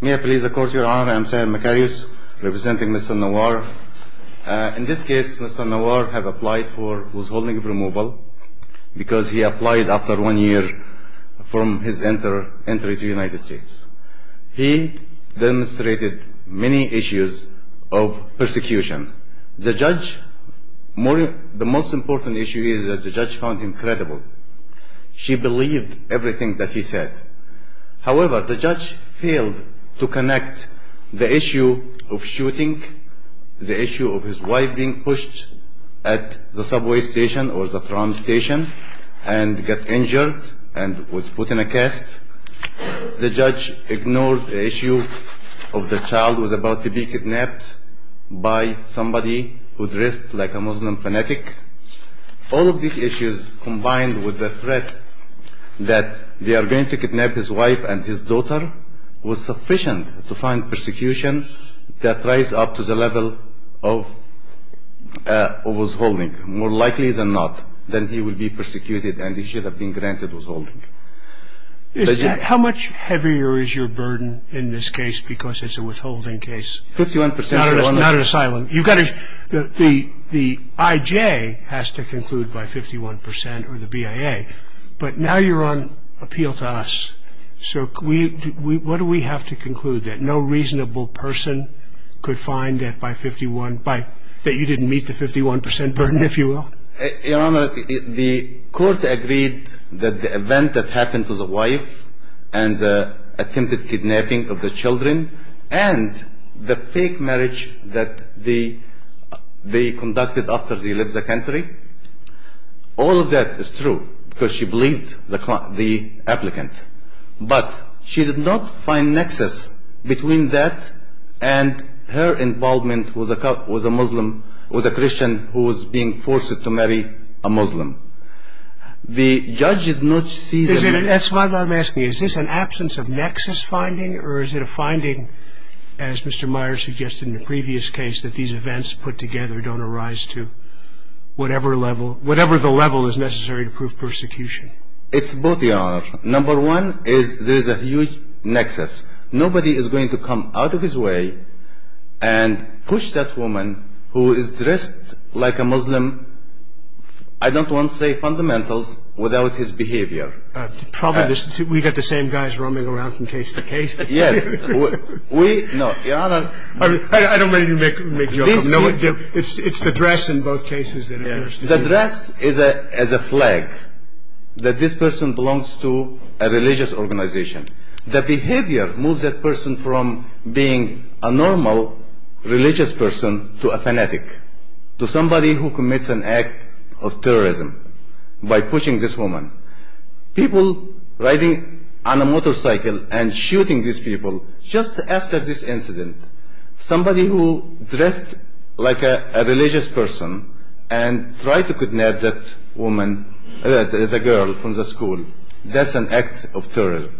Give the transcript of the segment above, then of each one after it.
May I please accord your honor, I am Seher Makarius, representing Mr. Nawar. In this case, Mr. Nawar has applied for withholding of removal, because he applied after one year from his entry to the United States. He demonstrated many issues of persecution. The judge, the most important issue is that the judge found him credible. She believed everything that he said. However, the judge failed to connect the issue of shooting, the issue of his wife being pushed at the subway station or the tram station, and got injured and was put in a cast. The judge ignored the issue of the child was about to be kidnapped by somebody who dressed like a Muslim fanatic. All of these issues, combined with the threat that they are going to kidnap his wife and his daughter, was sufficient to find persecution that rise up to the level of withholding. More likely than not, then he would be persecuted and he should have been granted withholding. How much heavier is your burden in this case, because it's a withholding case? Fifty-one percent. Not an asylum. The IJ has to conclude by 51% or the BIA, but now you're on appeal to us, so what do we have to conclude? That no reasonable person could find that you didn't meet the 51% burden, if you will? Your Honor, the court agreed that the event that happened to the wife and the attempted kidnapping of the children and the fake marriage that they conducted after they left the country, All of that is true, because she believed the applicant, but she did not find nexus between that and her involvement with a Christian who was being forced to marry a Muslim. The judge did not see the... It's both, Your Honor. Number one is there is a huge nexus. Nobody is going to come out of his way and push that woman who is dressed like a Muslim, I don't want to say fundamentals, without his behavior. Probably we've got the same guys roaming around from case to case. Yes. We, no, Your Honor... I don't mean to make you uncomfortable. It's the dress in both cases that... The dress is a flag that this person belongs to a religious organization. The behavior moves that person from being a normal religious person to a fanatic, to somebody who commits an act of terrorism by pushing this woman. People riding on a motorcycle and shooting these people just after this incident. Somebody who dressed like a religious person and tried to kidnap that woman, the girl from the school. That's an act of terrorism.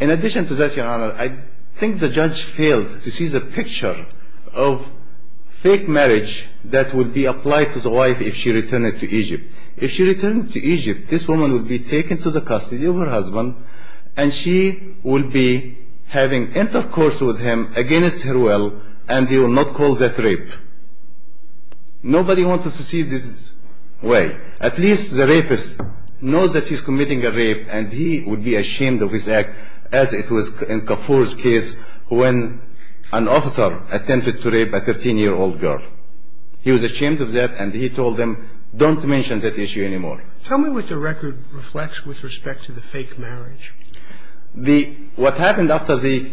In addition to that, Your Honor, I think the judge failed to see the picture of fake marriage that would be applied to the wife if she returned to Egypt. If she returned to Egypt, this woman would be taken to the custody of her husband and she would be having intercourse with him against her will and he would not call that rape. Nobody wants to see this way. At least the rapist knows that he's committing a rape and he would be ashamed of his act as it was in Kafur's case when an officer attempted to rape a 13-year-old girl. He was ashamed of that and he told them, don't mention that issue anymore. Tell me what the record reflects with respect to the fake marriage. What happened after they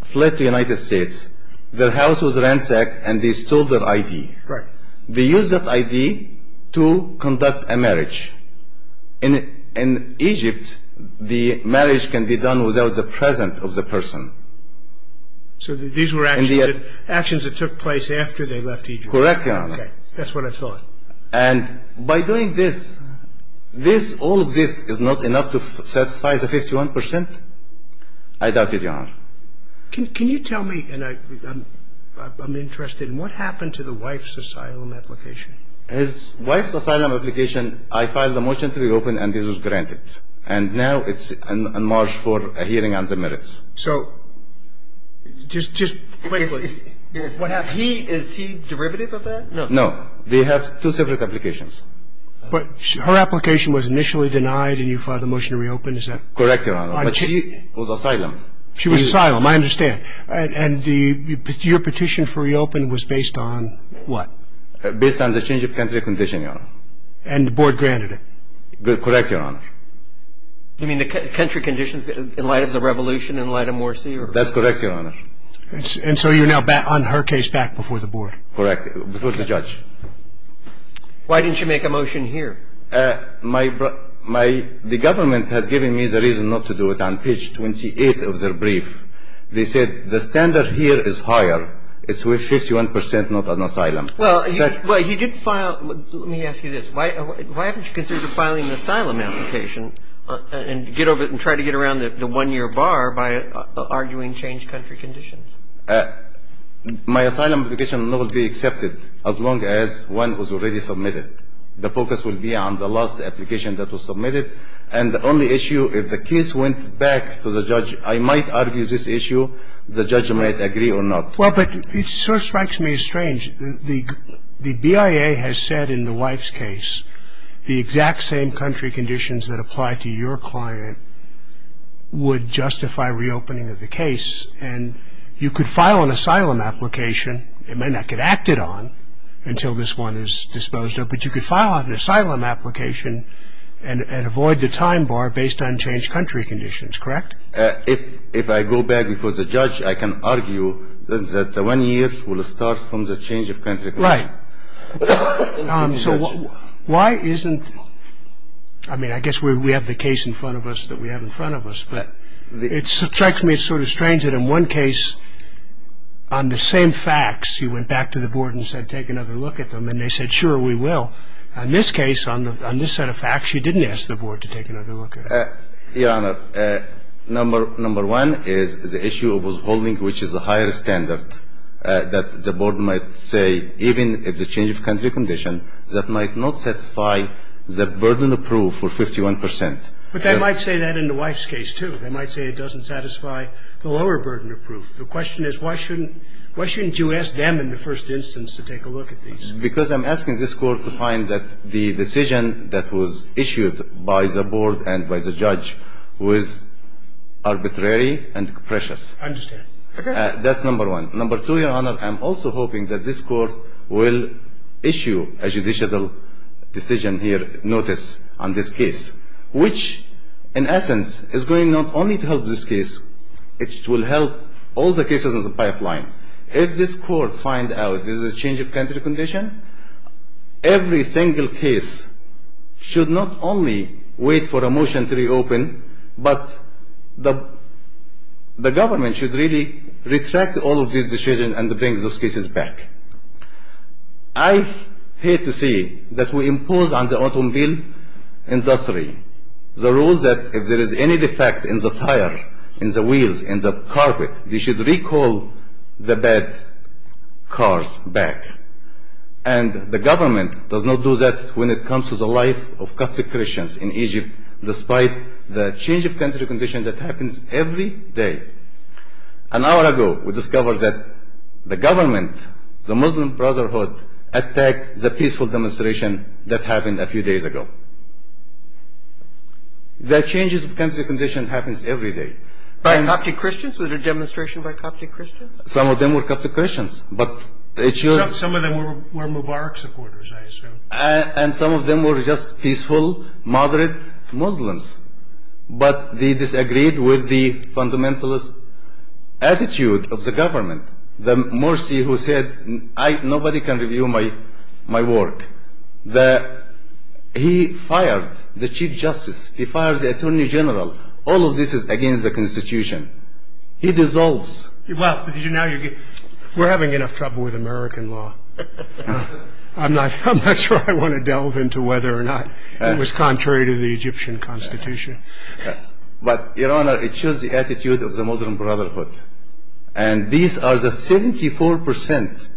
fled to the United States, their house was ransacked and they stole their ID. Right. They used that ID to conduct a marriage. In Egypt, the marriage can be done without the presence of the person. So these were actions that took place after they left Egypt? Correct, Your Honor. That's what I thought. And by doing this, all of this is not enough to satisfy the 51%? I doubt it, Your Honor. Can you tell me, and I'm interested, what happened to the wife's asylum application? His wife's asylum application, I filed a motion to reopen and this was granted. And now it's on march for a hearing on the merits. So just quickly, is he derivative of that? No. They have two separate applications. But her application was initially denied and you filed a motion to reopen, is that? Correct, Your Honor. But she was asylum. She was asylum, I understand. And your petition for reopen was based on what? Based on the change of country condition, Your Honor. And the board granted it? Correct, Your Honor. You mean the country conditions in light of the revolution, in light of Morsi? That's correct, Your Honor. And so you're now on her case back before the board? Correct, before the judge. Why didn't you make a motion here? The government has given me the reason not to do it on page 28 of their brief. They said the standard here is higher. It's with 51% not on asylum. Well, he did file – let me ask you this. Why haven't you considered filing an asylum application and try to get around the one-year bar by arguing changed country conditions? My asylum application will not be accepted as long as one was already submitted. The focus will be on the last application that was submitted. And the only issue, if the case went back to the judge, I might argue this issue, the judge might agree or not. Well, but it sort of strikes me as strange. The BIA has said in the wife's case the exact same country conditions that apply to your client would justify reopening of the case. And you could file an asylum application. It may not get acted on until this one is disposed of, but you could file an asylum application and avoid the time bar based on changed country conditions, correct? If I go back before the judge, I can argue that the one year will start from the changed country condition. Right. So why isn't – I mean, I guess we have the case in front of us that we have in front of us, but it strikes me as sort of strange that in one case on the same facts you went back to the board and said take another look at them, and they said, sure, we will. In this case, on this set of facts, you didn't ask the board to take another look at them. Your Honor, number one is the issue of withholding, which is a higher standard that the board might say even if the change of country condition, that might not satisfy the burden approved for 51 percent. But they might say that in the wife's case, too. They might say it doesn't satisfy the lower burden approved. The question is why shouldn't you ask them in the first instance to take a look at these? Because I'm asking this court to find that the decision that was issued by the board and by the judge was arbitrary and precious. I understand. That's number one. Number two, Your Honor, I'm also hoping that this court will issue a judicial decision here, notice on this case, which in essence is going not only to help this case, it will help all the cases in the pipeline. If this court finds out there's a change of country condition, every single case should not only wait for a motion to reopen, but the government should really retract all of these decisions and bring those cases back. I hate to say that we impose on the automobile industry the rules that if there is any defect in the tire, in the wheels, in the carpet, we should recall the bad cars back. And the government does not do that when it comes to the life of Catholic Christians in Egypt, despite the change of country condition that happens every day. An hour ago, we discovered that the government, the Muslim Brotherhood, attacked the peaceful demonstration that happened a few days ago. The changes of country condition happens every day. By Coptic Christians? Was it a demonstration by Coptic Christians? Some of them were Coptic Christians. Some of them were Mubarak supporters, I assume. And some of them were just peaceful, moderate Muslims. But they disagreed with the fundamentalist attitude of the government. The mercy who said, nobody can review my work. He fired the chief justice. He fired the attorney general. All of this is against the Constitution. He dissolves. Well, we're having enough trouble with American law. I'm not sure I want to delve into whether or not it was contrary to the Egyptian Constitution. But, Your Honor, it shows the attitude of the Muslim Brotherhood. And these are the 74%.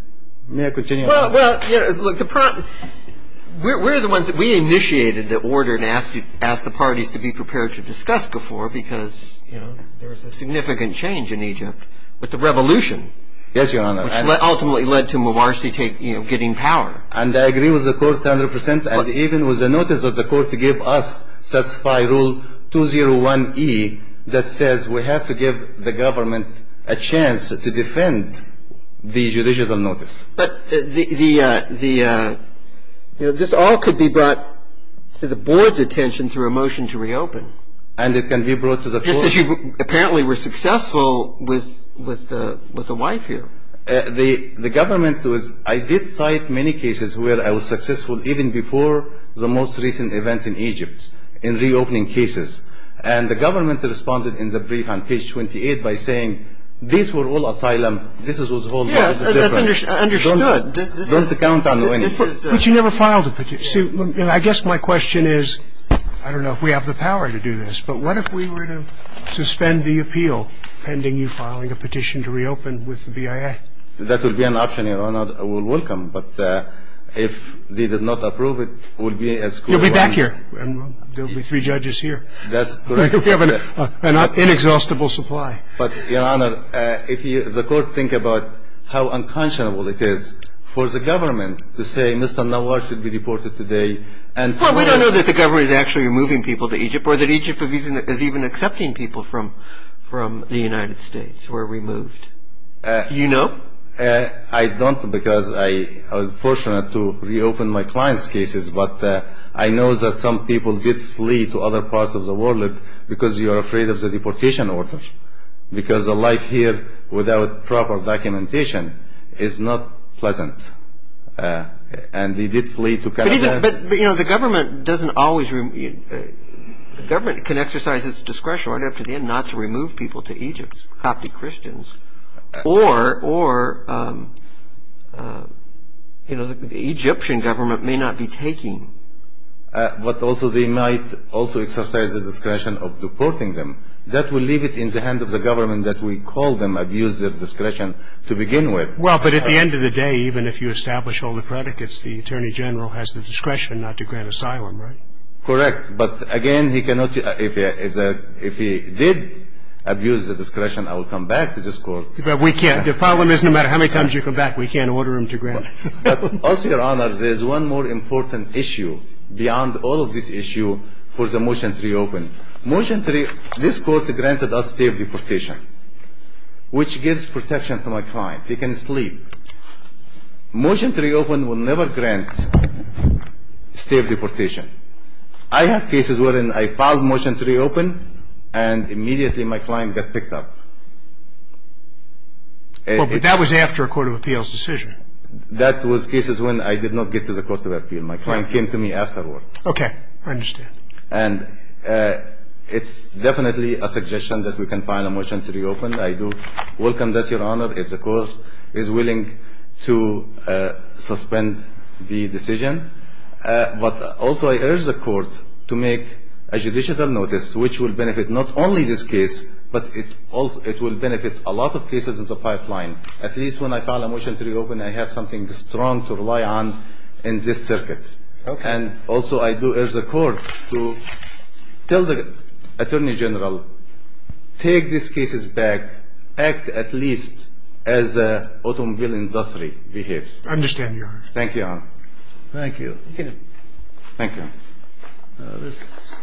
May I continue? Well, we're the ones that we initiated the order and asked the parties to be prepared to discuss before because there was a significant change in Egypt with the revolution. Yes, Your Honor. Which ultimately led to Mubarak getting power. And I agree with the court 100%. And even with the notice of the court to give us satisfy rule 201E that says we have to give the government a chance to defend the judicial notice. But this all could be brought to the board's attention through a motion to reopen. And it can be brought to the court. Just as you apparently were successful with the wife here. The government was ‑‑ I did cite many cases where I was successful even before the most recent event in Egypt in reopening cases. And the government responded in the brief on page 28 by saying these were all asylum. This was all ‑‑ Yes, that's understood. Don't count on any. But you never filed a petition. I guess my question is, I don't know if we have the power to do this, but what if we were to suspend the appeal pending you filing a petition to reopen with the BIA? That would be an option, Your Honor. I would welcome. But if they did not approve it, it would be as good as ‑‑ You'll be back here. There will be three judges here. That's correct. We have an inexhaustible supply. But, Your Honor, if the court thinks about how unconscionable it is for the government to say Mr. Nawaz should be deported today. Well, we don't know that the government is actually moving people to Egypt or that Egypt is even accepting people from the United States who are removed. Do you know? I don't because I was fortunate to reopen my client's cases, but I know that some people did flee to other parts of the world because you are afraid of the deportation order, because the life here without proper documentation is not pleasant. And they did flee to Canada. But, you know, the government doesn't always ‑‑ the government can exercise its discretion right up to the end not to remove people to Egypt, Coptic Christians, or, you know, the Egyptian government may not be taking. But also they might also exercise the discretion of deporting them. That will leave it in the hands of the government that we call them, abuse their discretion to begin with. Well, but at the end of the day, even if you establish all the predicates, the Attorney General has the discretion not to grant asylum, right? Correct. But, again, he cannot ‑‑ if he did abuse the discretion, I will come back to this court. But we can't. The problem is no matter how many times you come back, we can't order him to grant asylum. But also, Your Honor, there is one more important issue beyond all of this issue for the motion to reopen. Motion to reopen, this court granted us state of deportation, which gives protection to my client. He can sleep. Motion to reopen will never grant state of deportation. I have cases wherein I filed motion to reopen and immediately my client got picked up. Well, but that was after a court of appeals decision. That was cases when I did not get to the court of appeals. My client came to me afterward. Okay. I understand. And it's definitely a suggestion that we can file a motion to reopen. I do welcome that, Your Honor. If the court is willing to suspend the decision. But also I urge the court to make a judicial notice, which will benefit not only this case, but it will benefit a lot of cases in the pipeline. At least when I file a motion to reopen, I have something strong to rely on in this circuit. Okay. And also I do urge the court to tell the Attorney General, take these cases back. Act at least as a automobile industry behaves. I understand, Your Honor. Thank you, Your Honor. Thank you. Thank you. Mr.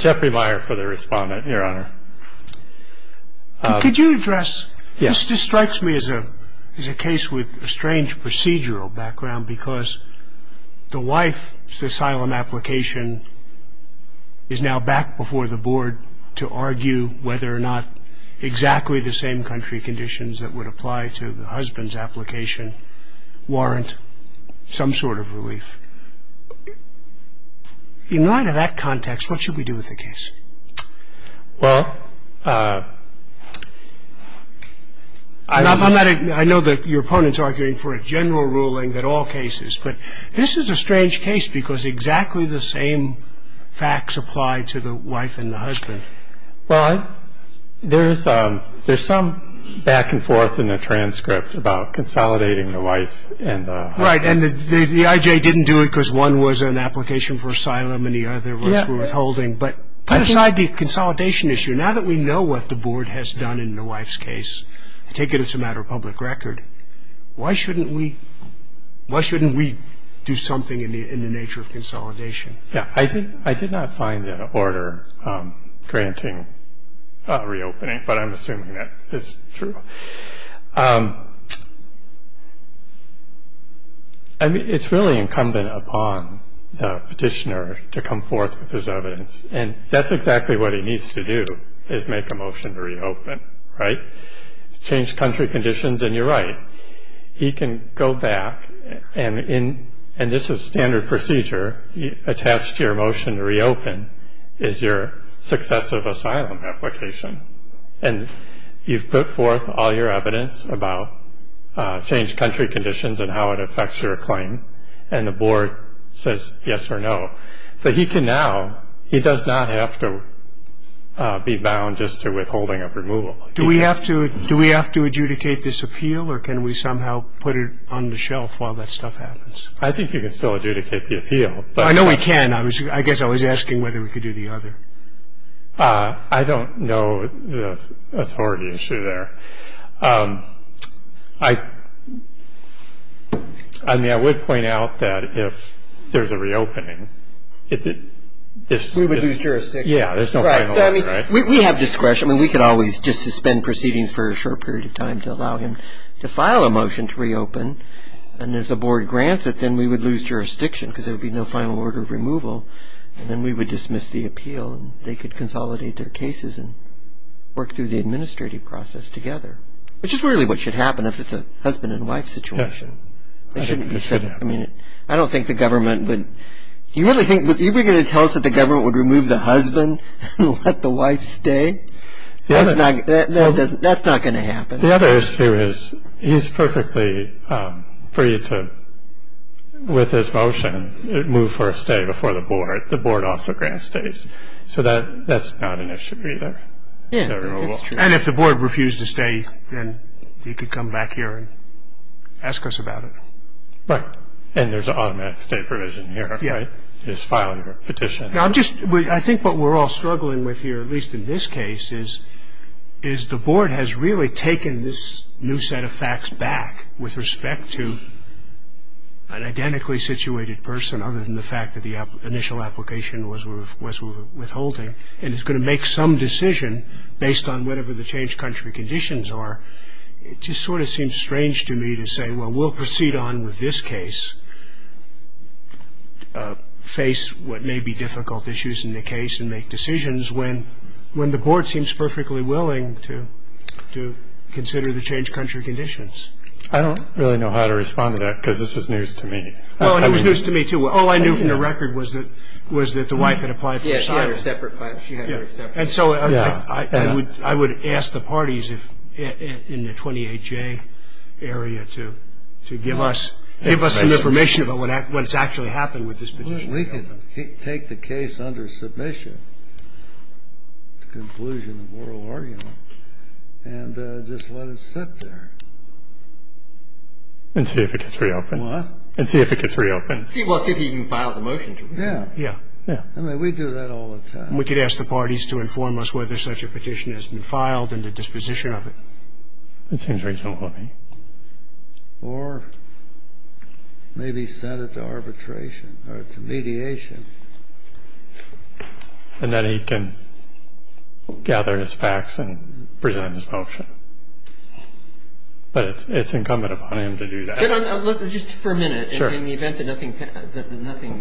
Jeffrey Meyer for the respondent. Your Honor. Could you address, this strikes me as a case with a strange procedural background because the wife's asylum application is now back before the board to argue whether or not exactly the same country conditions that would apply to the husband's application warrant some sort of relief. In light of that context, what should we do with the case? Well, I know that your opponent's arguing for a general ruling that all cases, but this is a strange case because exactly the same facts apply to the wife and the husband. Well, there's some back and forth in the transcript about consolidating the wife and the husband. Right. And the I.J. didn't do it because one was an application for asylum and the other was withholding. But put aside the consolidation issue, now that we know what the board has done in the wife's case, take it as a matter of public record, why shouldn't we do something in the nature of consolidation? Yeah. I did not find an order granting reopening, but I'm assuming that is true. I mean, it's really incumbent upon the petitioner to come forth with his evidence. And that's exactly what he needs to do, is make a motion to reopen. Right. It's changed country conditions, and you're right. He can go back, and this is standard procedure. Attached to your motion to reopen is your successive asylum application. And you've put forth all your evidence about changed country conditions and how it affects your claim, and the board says yes or no. But he can now, he does not have to be bound just to withholding of removal. Do we have to adjudicate this appeal, or can we somehow put it on the shelf while that stuff happens? I think you can still adjudicate the appeal. I know we can. I guess I was asking whether we could do the other. I don't know the authority issue there. I mean, I would point out that if there's a reopening. We would lose jurisdiction. Yeah, there's no final order, right? Right. So, I mean, we have discretion. I mean, we could always just suspend proceedings for a short period of time to allow him to file a motion to reopen. And if the board grants it, then we would lose jurisdiction because there would be no final order of removal, and then we would dismiss the appeal, and they could consolidate their cases and work through the administrative process together, which is really what should happen if it's a husband and wife situation. Yeah. It shouldn't be so. I mean, I don't think the government would... Do you really think... You were going to tell us that the government would remove the husband and let the wife stay? That's not going to happen. The other issue is he's perfectly free to, with his motion, move for a stay before the board. The board also grants stays. So that's not an issue either. Yeah. And if the board refused to stay, then he could come back here and ask us about it. Right. And there's an automatic stay provision here, right? Yeah. He's filing a petition. I think what we're all struggling with here, at least in this case, is the board has really taken this new set of facts back with respect to an identically situated person, other than the fact that the initial application was withholding, and is going to make some decision based on whatever the changed country conditions are. It just sort of seems strange to me to say, well, we'll proceed on with this case, face what may be difficult issues in the case, and make decisions when the board seems perfectly willing to consider the changed country conditions. I don't really know how to respond to that, because this is news to me. Well, it was news to me, too. All I knew from the record was that the wife had applied for asylum. Yeah, she had her separate file. And so I would ask the parties in the 28J area to give us some information about what's actually happened with this petition. We can take the case under submission, the conclusion of oral argument, and just let it sit there. And see if it gets reopened. What? And see if it gets reopened. Well, see if he can file the motion. Yeah. Yeah. I mean, we do that all the time. We could ask the parties to inform us whether such a petition has been filed and the disposition of it. That seems reasonable to me. Or maybe send it to arbitration or to mediation. And then he can gather his facts and present his motion. But it's incumbent upon him to do that. Just for a minute, in the event that nothing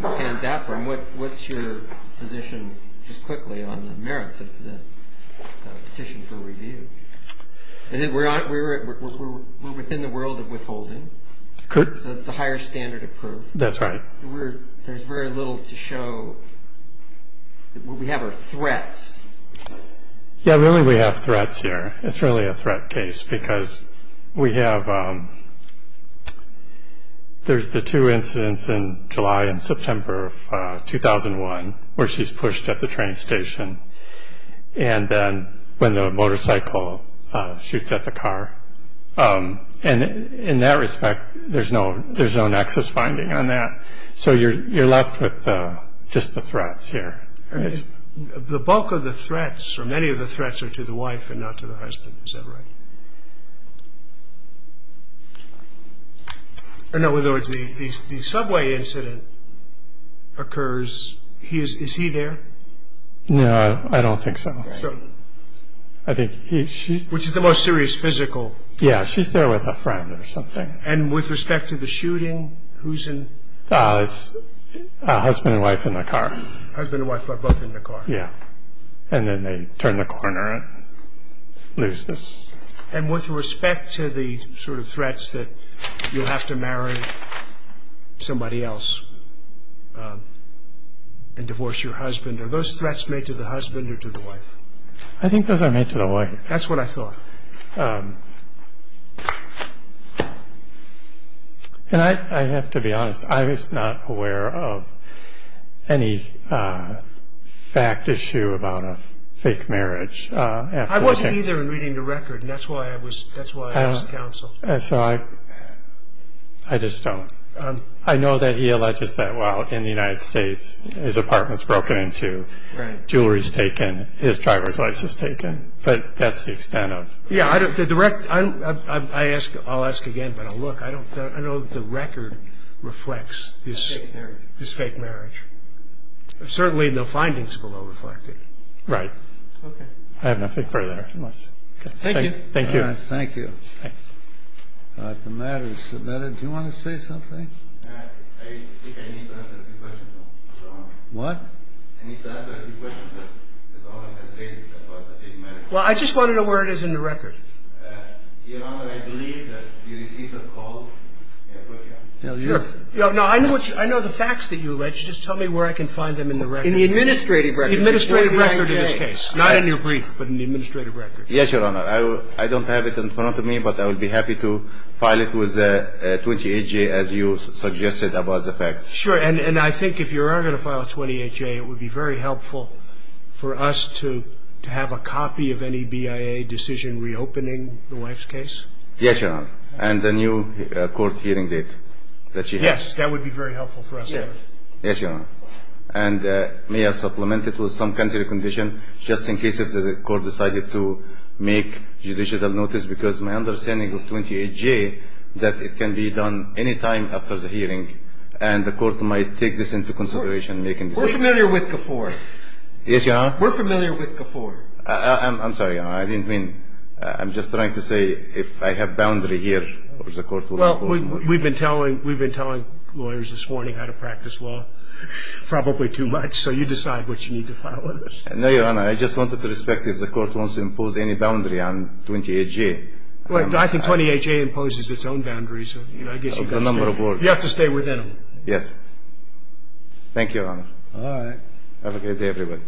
pans out for him, what's your position just quickly on the merits of the petition for review? We're within the world of withholding. So it's a higher standard of proof. That's right. There's very little to show. What we have are threats. Yeah, really we have threats here. It's really a threat case because we have the two incidents in July and September of 2001 where she's pushed at the train station and then when the motorcycle shoots at the car. And in that respect, there's no nexus finding on that. So you're left with just the threats here. The bulk of the threats or many of the threats are to the wife and not to the husband. Is that right? In other words, the subway incident occurs. Is he there? No, I don't think so. Which is the most serious physical? Yeah, she's there with a friend or something. And with respect to the shooting, who's in? It's a husband and wife in the car. Husband and wife are both in the car. Yeah, and then they turn the corner and lose this. And with respect to the sort of threats that you'll have to marry somebody else and divorce your husband, are those threats made to the husband or to the wife? I think those are made to the wife. That's what I thought. And I have to be honest. I was not aware of any fact issue about a fake marriage. I wasn't either in reading the record, and that's why I asked counsel. So I just don't. I know that he alleges that while in the United States his apartment's broken into, jewelry's taken, his driver's license taken. But that's the extent of it. Yeah, I'll ask again, but I'll look. I know that the record reflects this fake marriage. Certainly no findings below reflect it. Right. Okay. I have nothing further. Thank you. Thank you. Thank you. The matter is submitted. Do you want to say something? I think I need to answer a few questions. What? Well, I just want to know where it is in the record. Your Honor, I believe that you received a call. No, I know the facts that you allege. Just tell me where I can find them in the record. In the administrative record. In the administrative record of this case. Not in your brief, but in the administrative record. Yes, Your Honor. I don't have it in front of me, but I would be happy to file it with 28J as you suggested about the facts. Sure. And I think if you are going to file it with 28J, it would be very helpful for us to have a copy of any BIA decision reopening the wife's case. Yes, Your Honor. And the new court hearing date that she has. Yes, that would be very helpful for us. Yes, Your Honor. And may I supplement it with some country condition just in case the court decided to make judicial notice, because my understanding of 28J that it can be done any time after the hearing, and the court might take this into consideration. We're familiar with GAFOR. Yes, Your Honor. We're familiar with GAFOR. I'm sorry, Your Honor. I didn't mean to. I'm just trying to say if I have boundary here or the court will impose. Well, we've been telling lawyers this morning how to practice law probably too much, so you decide what you need to file with us. No, Your Honor. I just wanted to inspect if the court wants to impose any boundary on 28J. I think 28J imposes its own boundaries. You have to stay within them. Yes. Thank you, Your Honor. All right. Have a good day, everybody.